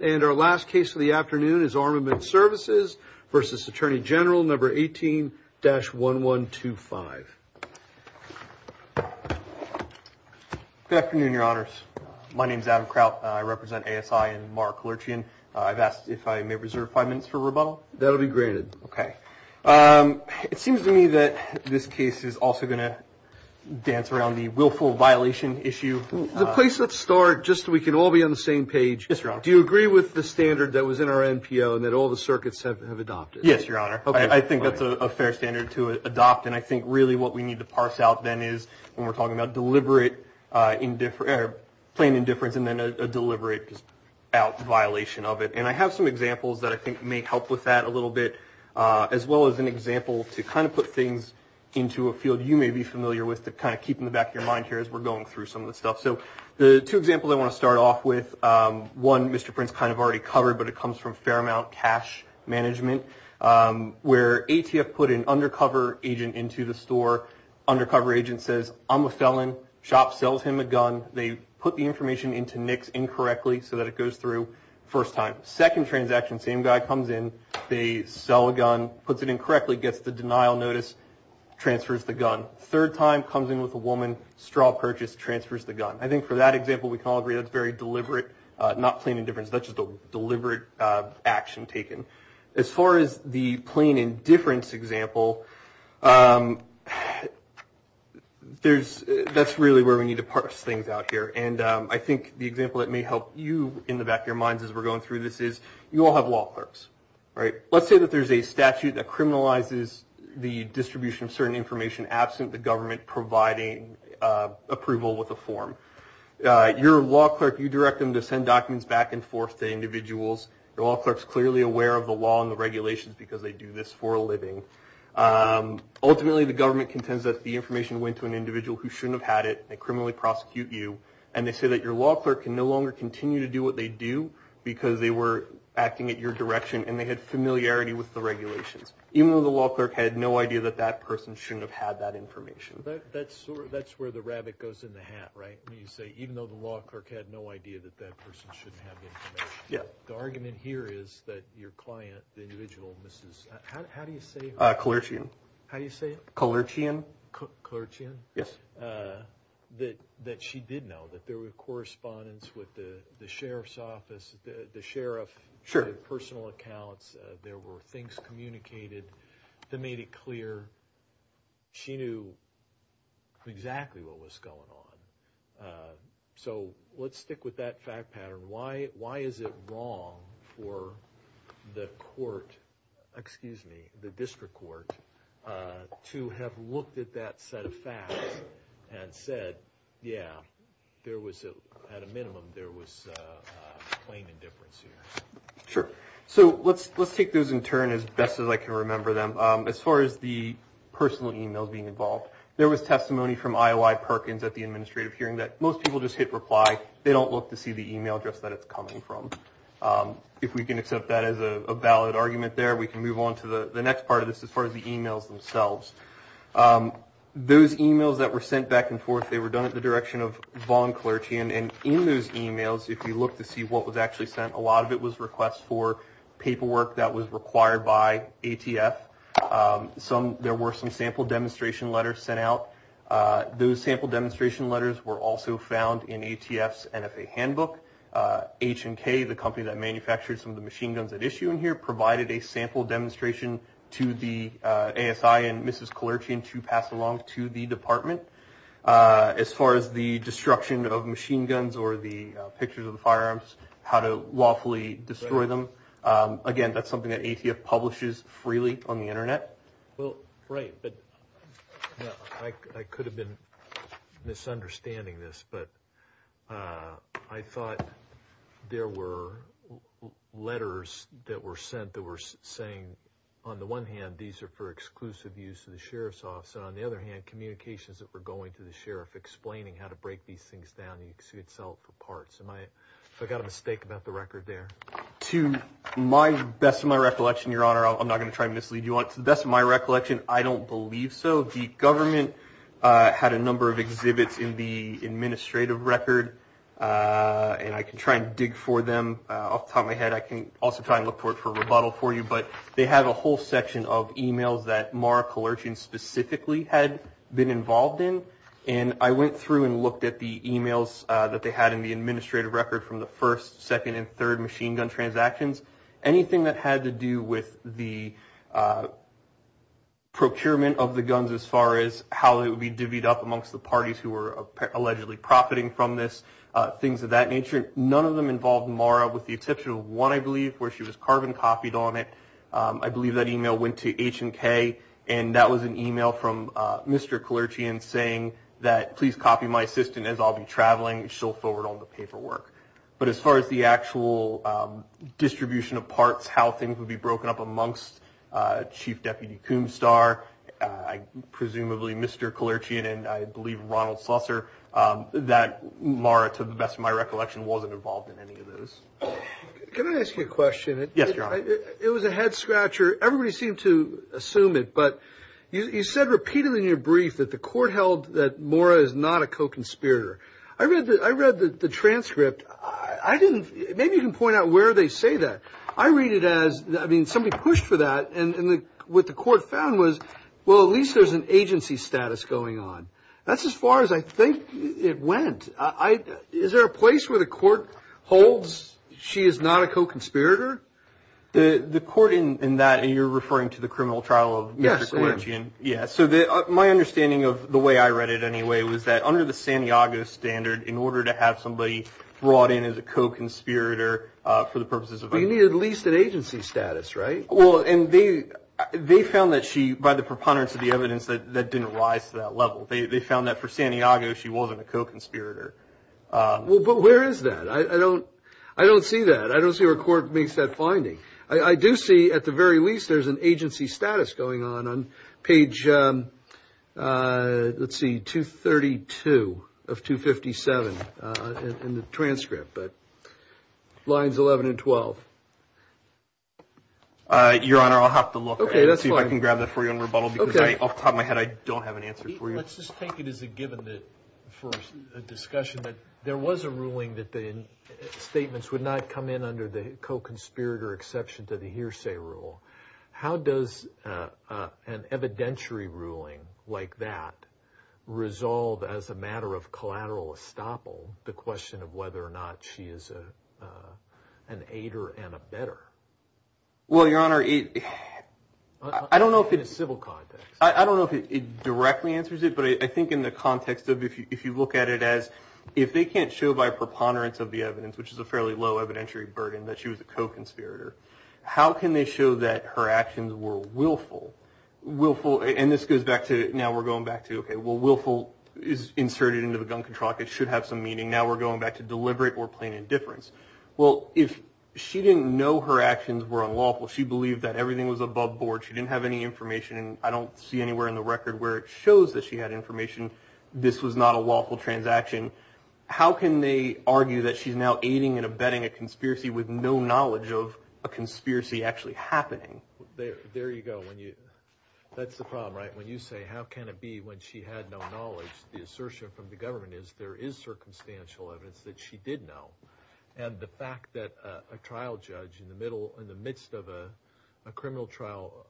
And our last case of the afternoon is Armament Services v. Attorney General No. 18-1125. Good afternoon, Your Honors. My name is Adam Kraut. I represent ASI and Mara Kalerchian. I've asked if I may reserve five minutes for rebuttal. That will be granted. Okay. It seems to me that this case is also going to dance around the willful violation issue. The place let's start, just so we can all be on the same page. Yes, Your Honor. Do you agree with the standard that was in our NPO and that all the circuits have adopted? Yes, Your Honor. Okay. I think that's a fair standard to adopt. And I think really what we need to parse out then is when we're talking about deliberate indifference or plain indifference and then a deliberate violation of it. And I have some examples that I think may help with that a little bit, as well as an example to kind of put things into a field you may be familiar with just to kind of keep in the back of your mind here as we're going through some of the stuff. So the two examples I want to start off with, one Mr. Prince kind of already covered, but it comes from Fairmount Cash Management, where ATF put an undercover agent into the store. Undercover agent says, I'm a felon. Shop sells him a gun. They put the information into NICS incorrectly so that it goes through first time. Second transaction, same guy comes in. They sell a gun, puts it in correctly, gets the denial notice, transfers the gun. Third time, comes in with a woman, straw purchase, transfers the gun. I think for that example we can all agree that's very deliberate, not plain indifference. That's just a deliberate action taken. As far as the plain indifference example, that's really where we need to parse things out here. And I think the example that may help you in the back of your minds as we're going through this is, you all have law clerks, right? Let's say that there's a statute that criminalizes the distribution of certain information absent the government providing approval with a form. Your law clerk, you direct them to send documents back and forth to individuals. Your law clerk's clearly aware of the law and the regulations because they do this for a living. Ultimately, the government contends that the information went to an individual who shouldn't have had it. They criminally prosecute you. And they say that your law clerk can no longer continue to do what they do because they were acting at your direction and they had familiarity with the regulations. Even though the law clerk had no idea that that person shouldn't have had that information. That's where the rabbit goes in the hat, right? When you say even though the law clerk had no idea that that person shouldn't have information. The argument here is that your client, the individual, how do you say her? Kalerchian. How do you say it? Kalerchian. Kalerchian? Yes. That she did know that there were correspondence with the sheriff's office. The sheriff had personal accounts. There were things communicated that made it clear she knew exactly what was going on. So let's stick with that fact pattern. Why is it wrong for the court, excuse me, the district court, to have looked at that set of facts and said, yeah, at a minimum there was claim indifference here. Sure. So let's take those in turn as best as I can remember them. As far as the personal emails being involved, there was testimony from IOI Perkins at the administrative hearing that most people just hit reply. They don't look to see the email address that it's coming from. If we can accept that as a valid argument there, we can move on to the next part of this as far as the emails themselves. Those emails that were sent back and forth, they were done at the direction of Vaughn Kalerchian. And in those emails, if you look to see what was actually sent, a lot of it was requests for paperwork that was required by ATF. There were some sample demonstration letters sent out. Those sample demonstration letters were also found in ATF's NFA handbook. H&K, the company that manufactured some of the machine guns at issue in here, provided a sample demonstration to the ASI and Mrs. Kalerchian to pass along to the department. As far as the destruction of machine guns or the pictures of the firearms, how to lawfully destroy them, again, that's something that ATF publishes freely on the Internet. I could have been misunderstanding this, but I thought there were letters that were sent that were saying, on the one hand, these are for exclusive use to the sheriff's office, and on the other hand, communications that were going to the sheriff explaining how to break these things down. You could sell it for parts. I got a mistake about the record there. To the best of my recollection, Your Honor, I'm not going to try to mislead you. To the best of my recollection, I don't believe so. The government had a number of exhibits in the administrative record, and I can try and dig for them off the top of my head. I can also try and look for a rebuttal for you, but they had a whole section of emails that Maura Kalerchian specifically had been involved in, and I went through and looked at the emails that they had in the administrative record from the first, second, and third machine gun transactions. Anything that had to do with the procurement of the guns as far as how it would be divvied up amongst the parties who were allegedly profiting from this, things of that nature. None of them involved Maura with the exception of one, I believe, where she was carbon copied on it. I believe that email went to H&K, and that was an email from Mr. Kalerchian saying that, please copy my assistant as I'll be traveling. She'll forward all the paperwork. But as far as the actual distribution of parts, how things would be broken up amongst Chief Deputy Coombstar, presumably Mr. Kalerchian, and I believe Ronald Slusser, that Maura, to the best of my recollection, wasn't involved in any of those. Can I ask you a question? Yes, Your Honor. It was a head-scratcher. Everybody seemed to assume it, but you said repeatedly in your brief that the court held that Maura is not a co-conspirator. I read the transcript. Maybe you can point out where they say that. I read it as, I mean, somebody pushed for that, and what the court found was, well, at least there's an agency status going on. That's as far as I think it went. Is there a place where the court holds she is not a co-conspirator? The court in that, and you're referring to the criminal trial of Mr. Kalerchian? Yes, I am. Yes, so my understanding of the way I read it anyway was that under the Santiago standard, in order to have somebody brought in as a co-conspirator for the purposes of an agency status, right? Well, and they found that she, by the preponderance of the evidence, that didn't rise to that level. They found that for Santiago she wasn't a co-conspirator. Well, but where is that? I don't see that. I don't see where a court makes that finding. I do see at the very least there's an agency status going on on page, let's see, 232 of 257 in the transcript, but lines 11 and 12. Your Honor, I'll have to look and see if I can grab that for you on rebuttal because off the top of my head, I don't have an answer for you. Let's just take it as a given that for a discussion that there was a ruling that statements would not come in under the co-conspirator exception to the hearsay rule, how does an evidentiary ruling like that resolve as a matter of collateral estoppel the question of whether or not she is an aider and a better? Well, Your Honor, I don't know if in a civil context. I don't know if it directly answers it, but I think in the context of if you look at it as if they can't show by preponderance of the evidence, which is a fairly low evidentiary burden that she was a co-conspirator, how can they show that her actions were willful? And this goes back to now we're going back to, okay, well, willful is inserted into the gun contract. It should have some meaning. Now we're going back to deliberate or plain indifference. Well, if she didn't know her actions were unlawful, she believed that everything was above board. She didn't have any information, and I don't see anywhere in the record where it shows that she had information. This was not a lawful transaction. How can they argue that she's now aiding and abetting a conspiracy with no knowledge of a conspiracy actually happening? There you go. That's the problem, right? When you say how can it be when she had no knowledge, the assertion from the government is there is circumstantial evidence that she did know. And the fact that a trial judge in the middle, in the midst of a criminal trial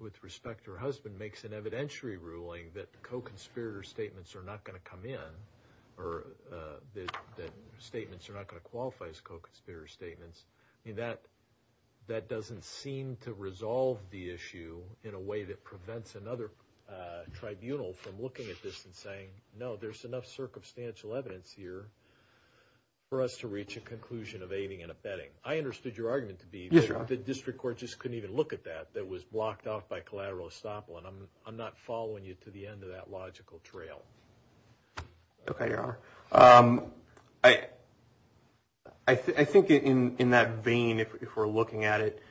with respect to her husband, makes an evidentiary ruling that co-conspirator statements are not going to come in, or that statements are not going to qualify as co-conspirator statements, that doesn't seem to resolve the issue in a way that prevents another tribunal from looking at this and saying, no, there's enough circumstantial evidence here for us to reach a conclusion of aiding and abetting. I understood your argument to be that the district court just couldn't even look at that, that was blocked off by collateral estoppel, and I'm not following you to the end of that logical trail. Okay, Your Honor. I think in that vein, if we're looking at it,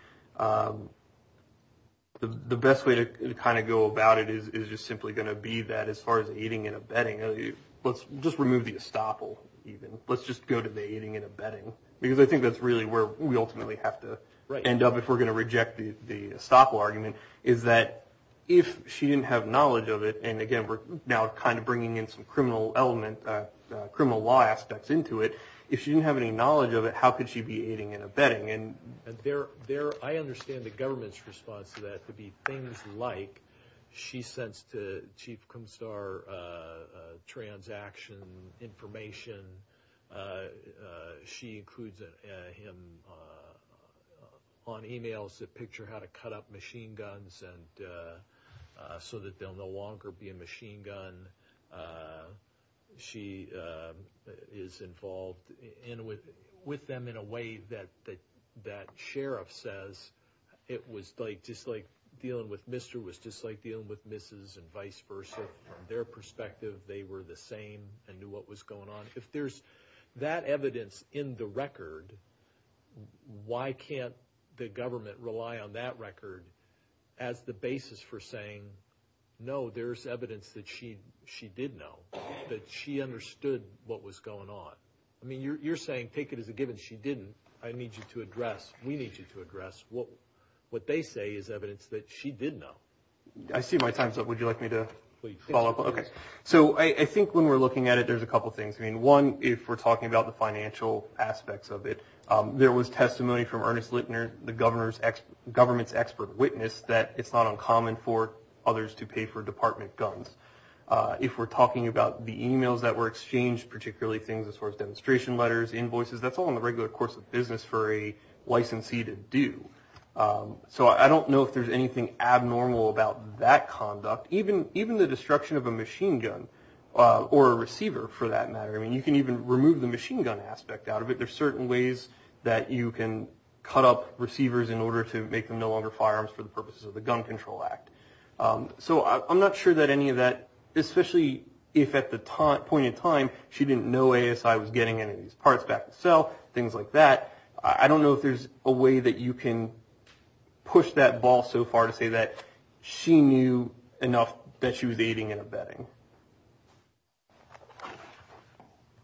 the best way to kind of go about it is just simply going to be that, as far as aiding and abetting, let's just remove the estoppel even. Let's just go to the aiding and abetting, because I think that's really where we ultimately have to end up if we're going to reject the estoppel argument, is that if she didn't have knowledge of it, and again we're now kind of bringing in some criminal law aspects into it, if she didn't have any knowledge of it, how could she be aiding and abetting? I understand the government's response to that to be things like, she sends to Chief Kumstar transaction information, she includes him on e-mails to picture how to cut up machine guns, so that they'll no longer be a machine gun, she is involved with them in a way that sheriff says, it was just like dealing with Mr. was just like dealing with Mrs. and vice versa. From their perspective, they were the same and knew what was going on. If there's that evidence in the record, why can't the government rely on that record as the basis for saying, no, there's evidence that she did know, that she understood what was going on. I mean, you're saying, take it as a given she didn't, I need you to address, we need you to address, what they say is evidence that she did know. I see my time's up, would you like me to follow up? So I think when we're looking at it, there's a couple of things. One, if we're talking about the financial aspects of it, there was testimony from Ernest Littner, the government's expert witness, that it's not uncommon for others to pay for department guns. If we're talking about the e-mails that were exchanged, particularly things as far as demonstration letters, invoices, that's all in the regular course of business for a licensee to do. So I don't know if there's anything abnormal about that conduct, even the destruction of a machine gun or a receiver, for that matter. I mean, you can even remove the machine gun aspect out of it. There's certain ways that you can cut up receivers in order to make them no longer firearms for the purposes of the Gun Control Act. So I'm not sure that any of that, especially if at the point in time she didn't know ASI was getting any of these parts back to sell, things like that. I don't know if there's a way that you can push that ball so far to say that she knew enough that she was aiding and abetting.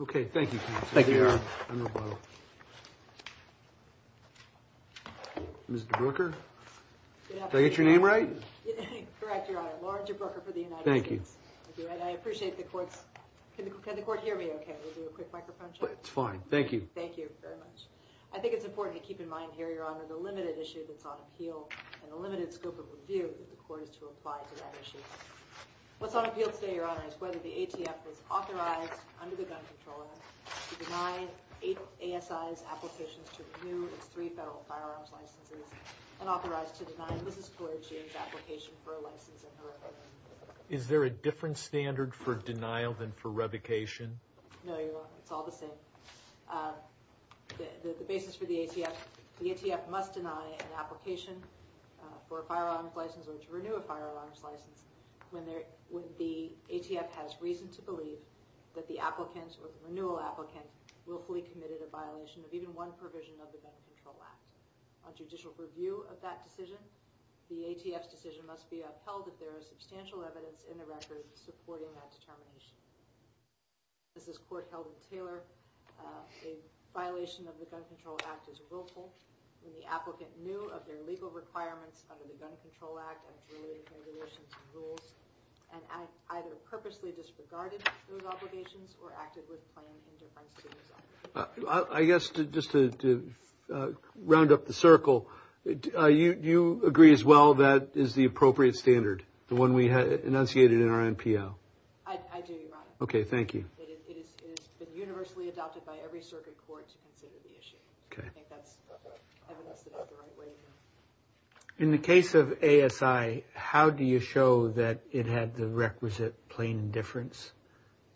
Okay, thank you. Ms. DeBroeker, did I get your name right? Correct, Your Honor. Lauren DeBroeker for the United States. Thank you. I appreciate the court's – can the court hear me okay? We'll do a quick microphone check. It's fine, thank you. Thank you very much. I think it's important to keep in mind here, Your Honor, the limited issue that's on appeal and the limited scope of review that the court is to apply to that issue. What's on appeal today, Your Honor, is whether the ATF is authorized under the Gun Control Act to deny ASI's applications to renew its three federal firearms licenses and authorized to deny for a license in her opinion. Is there a different standard for denial than for revocation? No, Your Honor, it's all the same. The basis for the ATF, the ATF must deny an application for a firearms license or to renew a firearms license when the ATF has reason to believe that the applicant or the renewal applicant willfully committed a violation of even one provision of the Gun Control Act. On judicial review of that decision, the ATF's decision must be upheld if there is substantial evidence in the record supporting that determination. As this court held in Taylor, a violation of the Gun Control Act is willful when the applicant knew of their legal requirements under the Gun Control Act and related regulations and rules, and either purposely disregarded those obligations or acted with plain indifference to those obligations. I guess just to round up the circle, you agree as well that is the appropriate standard, the one we enunciated in our NPL? I do, Your Honor. Okay, thank you. It has been universally adopted by every circuit court to consider the issue. I think that's evidence that is the right way to go. In the case of ASI, how do you show that it had the requisite plain indifference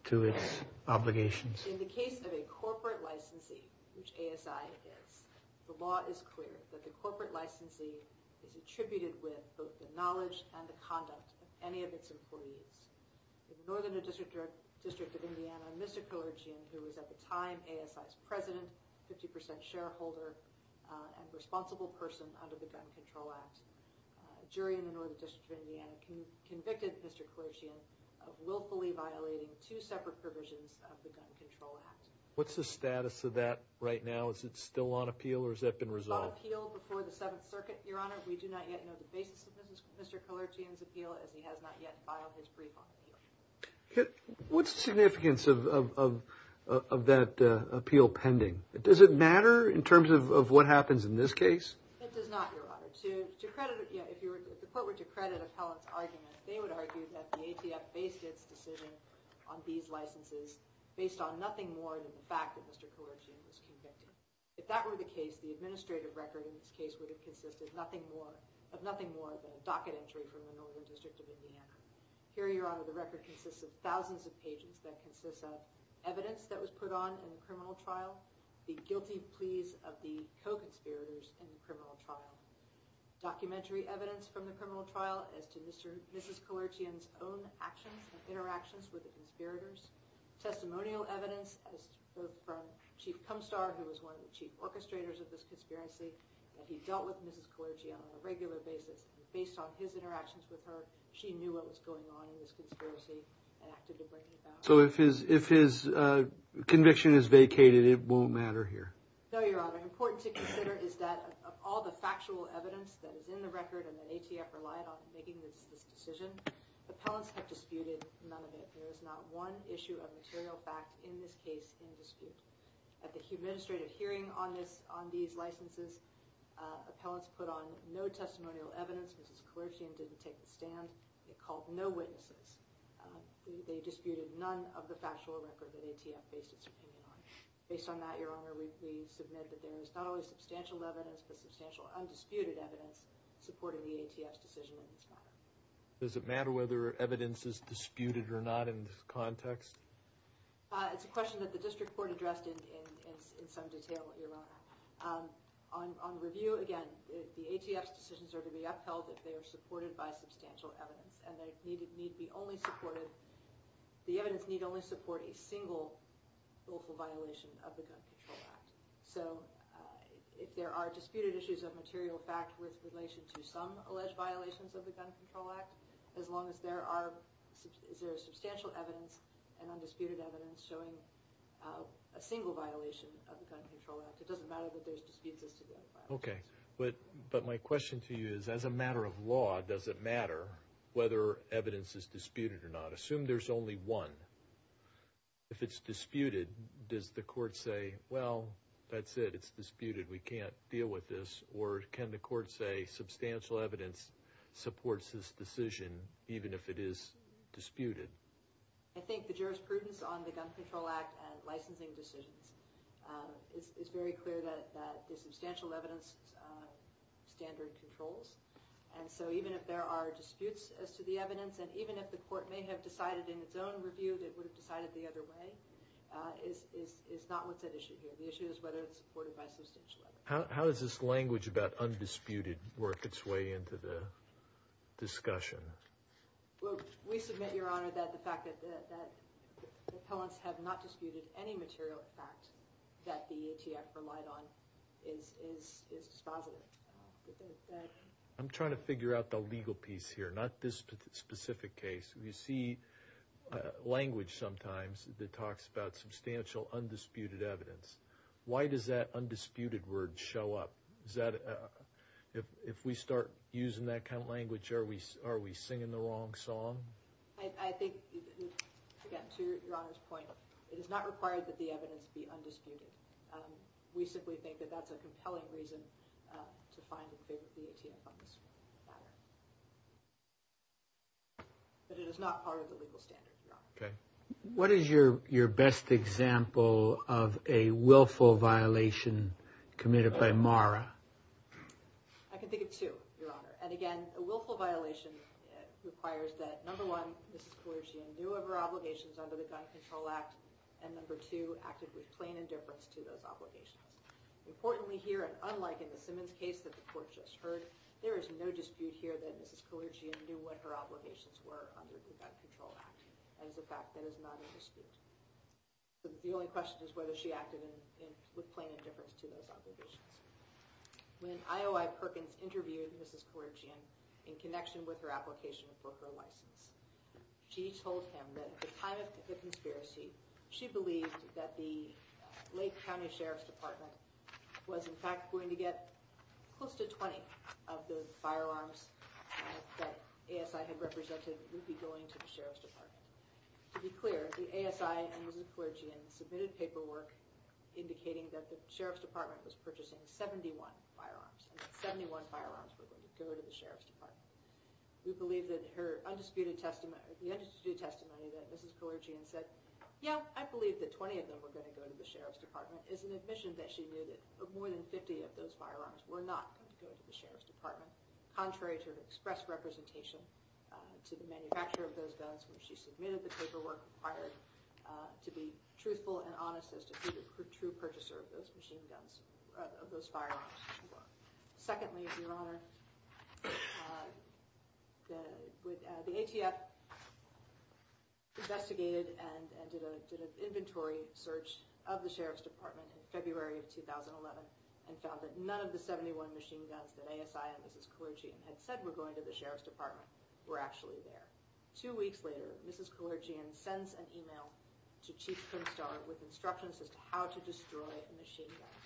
to its obligations? In the case of a corporate licensee, which ASI is, the law is clear that the corporate licensee is attributed with both the knowledge and the conduct of any of its employees. In the Northern District of Indiana, Mr. Colergean, who was at the time ASI's president, 50% shareholder, and responsible person under the Gun Control Act, a jury in the Northern District of Indiana convicted Mr. Colergean of willfully violating two separate provisions of the Gun Control Act. What's the status of that right now? Is it still on appeal or has that been resolved? It was on appeal before the Seventh Circuit, Your Honor. We do not yet know the basis of Mr. Colergean's appeal as he has not yet filed his brief on appeal. What's the significance of that appeal pending? Does it matter in terms of what happens in this case? It does not, Your Honor. To credit, if the court were to credit Appellant's argument, they would argue that the ATF based its decision on these licenses based on nothing more than the fact that Mr. Colergean was convicted. If that were the case, the administrative record in this case would have consisted of nothing more than a docket entry from the Northern District of Indiana. Here, Your Honor, the record consists of thousands of pages that consist of evidence that was put on in the criminal trial, the guilty pleas of the co-conspirators in the criminal trial, documentary evidence from the criminal trial as to Mrs. Colergean's own actions and interactions with the conspirators, testimonial evidence from Chief Kumstar, who was one of the chief orchestrators of this conspiracy, that he dealt with Mrs. Colergean on a regular basis. Based on his interactions with her, she knew what was going on in this conspiracy and acted to break it down. So if his conviction is vacated, it won't matter here? No, Your Honor. What's important to consider is that of all the factual evidence that is in the record and that ATF relied on in making this decision, appellants have disputed none of it. There is not one issue of material fact in this case in dispute. At the administrative hearing on these licenses, appellants put on no testimonial evidence. Mrs. Colergean didn't take the stand. They called no witnesses. They disputed none of the factual record that ATF based its opinion on. Based on that, Your Honor, we submit that there is not only substantial evidence but substantial undisputed evidence supporting the ATF's decision in this matter. Does it matter whether evidence is disputed or not in this context? It's a question that the district court addressed in some detail, Your Honor. On review, again, the ATF's decisions are to be upheld if they are supported by substantial evidence. The evidence need only support a single violation of the Gun Control Act. So if there are disputed issues of material fact with relation to some alleged violations of the Gun Control Act, as long as there is substantial evidence and undisputed evidence showing a single violation of the Gun Control Act, it doesn't matter that there's disputes as to the other violations. Okay, but my question to you is, as a matter of law, does it matter whether evidence is disputed or not? Assume there's only one. If it's disputed, does the court say, well, that's it, it's disputed, we can't deal with this? Or can the court say substantial evidence supports this decision even if it is disputed? I think the jurisprudence on the Gun Control Act and licensing decisions is very clear that the substantial evidence standard controls. And so even if there are disputes as to the evidence and even if the court may have decided in its own review that it would have decided the other way, is not what's at issue here. The issue is whether it's supported by substantial evidence. How does this language about undisputed work its way into the discussion? Well, we submit, Your Honor, that the fact that the appellants have not disputed any material fact that the ATF relied on is dispositive. I'm trying to figure out the legal piece here, not this specific case. We see language sometimes that talks about substantial undisputed evidence. Why does that undisputed word show up? If we start using that kind of language, are we singing the wrong song? I think, again, to Your Honor's point, it is not required that the evidence be undisputed. We simply think that that's a compelling reason to find a big BATF on this matter. But it is not part of the legal standard, Your Honor. Okay. What is your best example of a willful violation committed by Mara? I can think of two, Your Honor. And again, a willful violation requires that, number one, Mrs. Kalerzian knew of her obligations under the Gun Control Act, and, number two, acted with plain indifference to those obligations. Importantly here, and unlike in the Simmons case that the Court just heard, there is no dispute here that Mrs. Kalerzian knew what her obligations were under the Gun Control Act. That is a fact that is not in dispute. The only question is whether she acted with plain indifference to those obligations. When IOI Perkins interviewed Mrs. Kalerzian in connection with her application for her license, she told him that at the time of the conspiracy, she believed that the Lake County Sheriff's Department was in fact going to get close to 20 of the firearms that ASI had represented would be going to the Sheriff's Department. To be clear, the ASI and Mrs. Kalerzian submitted paperwork indicating that the Sheriff's Department was purchasing 71 firearms, we believe that her undisputed testimony, the undisputed testimony that Mrs. Kalerzian said, yeah, I believe that 20 of them were going to go to the Sheriff's Department, is an admission that she knew that more than 50 of those firearms were not going to go to the Sheriff's Department, contrary to her express representation to the manufacturer of those guns when she submitted the paperwork required to be truthful and honest as to who the true purchaser of those firearms were. Secondly, Your Honor, the ATF investigated and did an inventory search of the Sheriff's Department in February of 2011 and found that none of the 71 machine guns that ASI and Mrs. Kalerzian had said were going to the Sheriff's Department were actually there. Two weeks later, Mrs. Kalerzian sends an email to Chief Pinstar with instructions as to how to destroy a machine gun.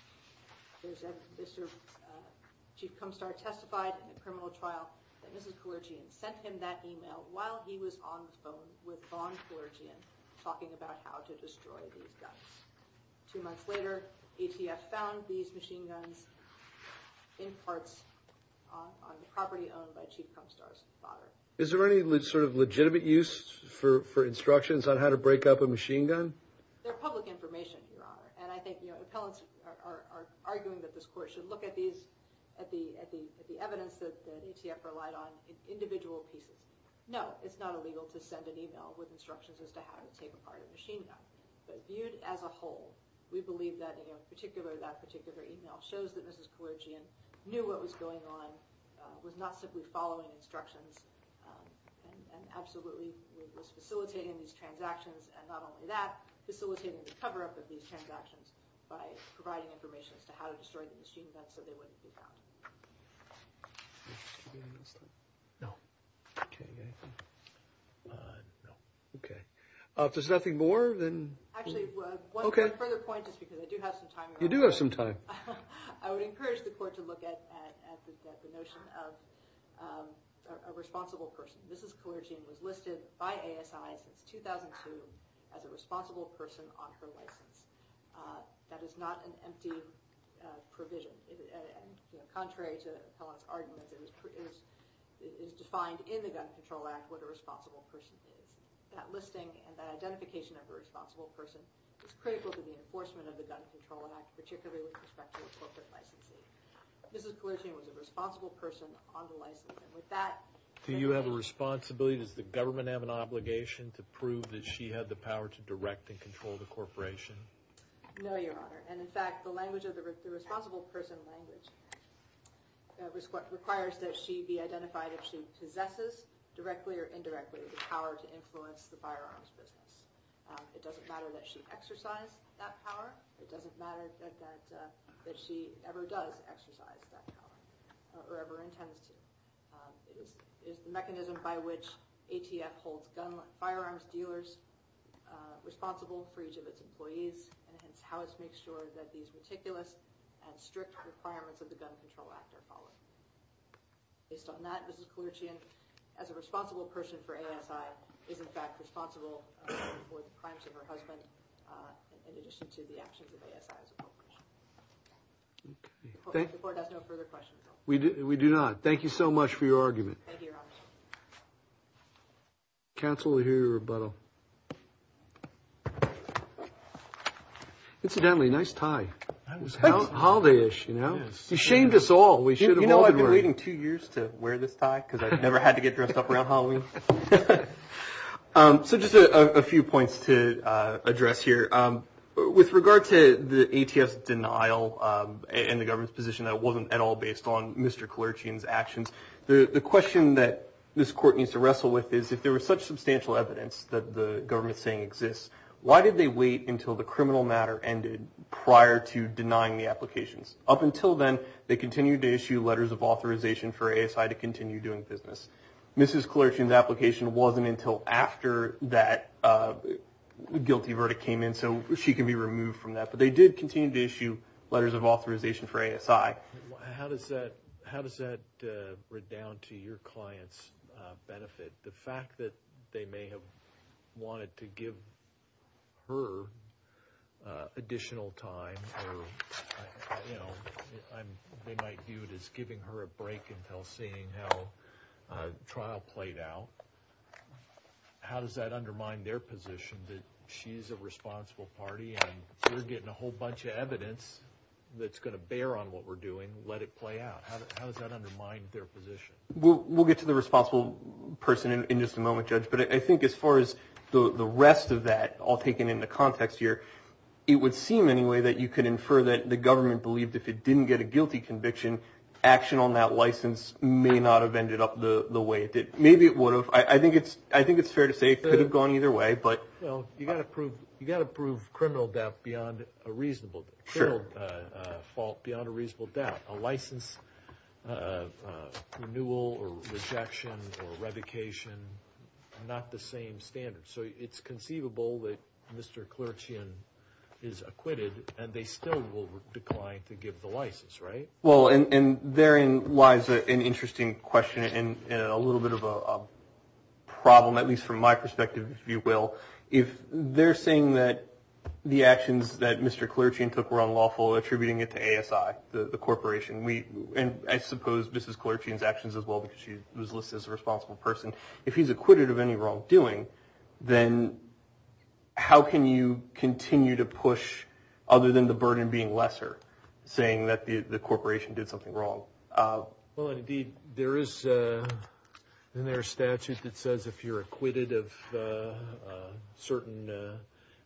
Chief Pinstar testified in a criminal trial that Mrs. Kalerzian sent him that email while he was on the phone with Vaughn Kalerzian talking about how to destroy these guns. Two months later, ATF found these machine guns in parts on the property owned by Chief Pinstar's father. Is there any sort of legitimate use for instructions on how to break up a machine gun? They're public information, Your Honor, and I think appellants are arguing that this Court should look at the evidence that ATF relied on in individual pieces. No, it's not illegal to send an email with instructions as to how to take apart a machine gun. But viewed as a whole, we believe that particular email shows that Mrs. Kalerzian knew what was going on, was not simply following instructions, and absolutely was facilitating these transactions, and not only that, facilitating the cover-up of these transactions by providing information as to how to destroy the machine guns so they wouldn't be found. If there's nothing more, then... Actually, one further point, just because I do have some time. You do have some time. I would encourage the Court to look at the notion of a responsible person. Mrs. Kalerzian was listed by ASI since 2002 as a responsible person on her license. That is not an empty provision. Contrary to appellants' arguments, it is defined in the Gun Control Act what a responsible person is. That listing and that identification of a responsible person is critical to the enforcement of the Gun Control Act, particularly with respect to appropriate licensing. Mrs. Kalerzian was a responsible person on the license, and with that... Do you have a responsibility, does the government have an obligation to prove that she had the power to direct and control the corporation? No, Your Honor. And in fact, the language of the responsible person language requires that she be identified if she possesses, directly or indirectly, the power to influence the firearms business. It doesn't matter that she exercised that power. It doesn't matter that she ever does exercise that power, or ever intends to. It is the mechanism by which ATF holds firearms dealers responsible for each of its employees, and it's how it makes sure that these meticulous and strict requirements of the Gun Control Act are followed. Based on that, Mrs. Kalerzian, as a responsible person for ASI, is in fact responsible for the crimes of her husband in addition to the actions of ASI as a corporation. The Court has no further questions. We do not. Thank you so much for your argument. Counsel will hear your rebuttal. Incidentally, nice tie. It's holiday-ish, you know? You shamed us all. We should have all been wearing it. You know, I've been waiting two years to wear this tie because I've never had to get dressed up around Halloween. So just a few points to address here. With regard to the ATF's denial in the government's position that it wasn't at all based on Mr. Kalerzian's actions, the question that this Court needs to wrestle with is if there was such substantial evidence that the government's saying exists, why did they wait until the criminal matter ended prior to denying the applications? Up until then, they continued to issue letters of authorization for ASI to continue doing business. Mrs. Kalerzian's application wasn't until after that guilty verdict came in, so she can be removed from that. But they did continue to issue letters of authorization for ASI. How does that redound to your client's benefit? The fact that they may have wanted to give her additional time, or they might view it as giving her a break until seeing how the trial played out, how does that undermine their position that she's a responsible party and we're getting a whole bunch of evidence that's going to bear on what we're doing, let it play out? How does that undermine their position? We'll get to the responsible person in just a moment, Judge, but I think as far as the rest of that all taken into context here, it would seem anyway that you could infer that the government believed if it didn't get a guilty conviction, action on that license may not have ended up the way it did. Maybe it would have. I think it's fair to say it could have gone either way. Well, you've got to prove criminal fault beyond a reasonable doubt. A license renewal or rejection or revocation are not the same standards. So it's conceivable that Mr. Clerchian is acquitted, and they still will decline to give the license, right? Well, and therein lies an interesting question and a little bit of a problem, at least from my perspective, if you will. If they're saying that the actions that Mr. Clerchian took were unlawful, attributing it to ASI, the corporation, and I suppose Mrs. Clerchian's actions as well because she was listed as a responsible person, if he's acquitted of any wrongdoing, then how can you continue to push other than the burden being lesser, saying that the corporation did something wrong? Well, indeed, there is a statute that says if you're acquitted of certain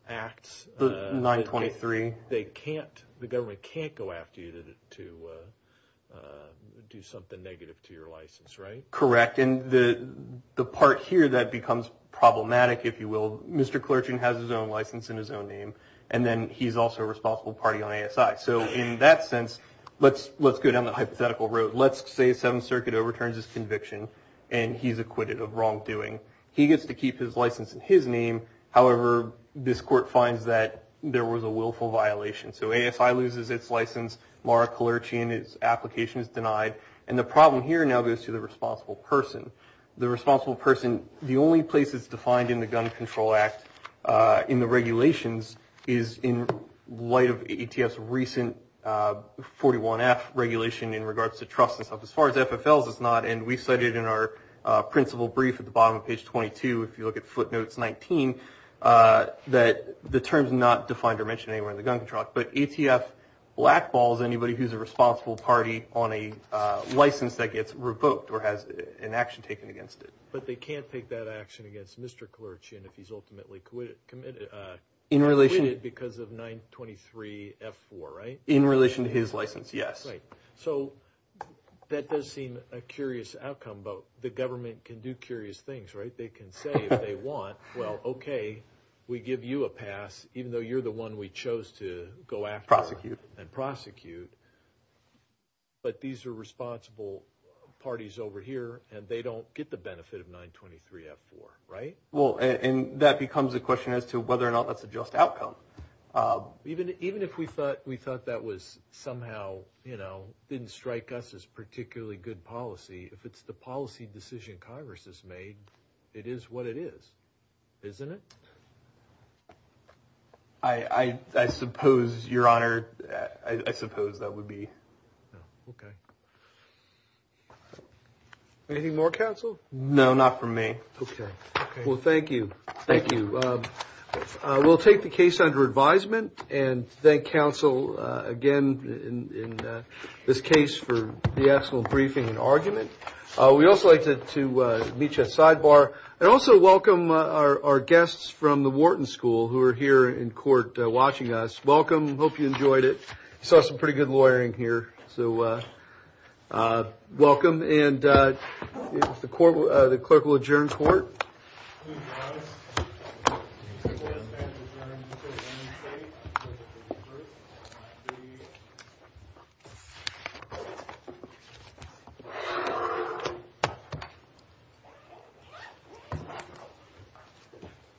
acts, 923, the government can't go after you to do something negative to your license, right? Correct, and the part here that becomes problematic, if you will, Mr. Clerchian has his own license and his own name, and then he's also a responsible party on ASI. So in that sense, let's go down the hypothetical road. Let's say Seventh Circuit overturns his conviction and he's acquitted of wrongdoing. He gets to keep his license in his name. However, this court finds that there was a willful violation. So ASI loses its license, Laura Clerchian, its application is denied, and the problem here now goes to the responsible person. The responsible person, the only place it's defined in the Gun Control Act, in the regulations, is in light of ATF's recent 41F regulation in regards to trust and stuff. As far as FFLs, it's not, and we cited in our principal brief at the bottom of page 22, if you look at footnotes 19, that the term's not defined or mentioned anywhere in the Gun Control Act. But ATF blackballs anybody who's a responsible party on a license that gets revoked or has an action taken against it. But they can't take that action against Mr. Clerchian if he's ultimately acquitted because of 923F4, right? In relation to his license, yes. So that does seem a curious outcome, but the government can do curious things, right? They can say if they want, well, okay, we give you a pass, even though you're the one we chose to go after and prosecute. But these are responsible parties over here, and they don't get the benefit of 923F4, right? Well, and that becomes a question as to whether or not that's a just outcome. Even if we thought that was somehow, you know, didn't strike us as particularly good policy, if it's the policy decision Congress has made, it is what it is, isn't it? I suppose, Your Honor, I suppose that would be. Okay. Anything more, counsel? No, not from me. Okay. Well, thank you. Thank you. We'll take the case under advisement and thank counsel again in this case for the excellent briefing and argument. We'd also like to meet you at sidebar and also welcome our guests from the Wharton School who are here in court watching us. Welcome. Hope you enjoyed it. Saw some pretty good lawyering here, so welcome. The clerk will adjourn court.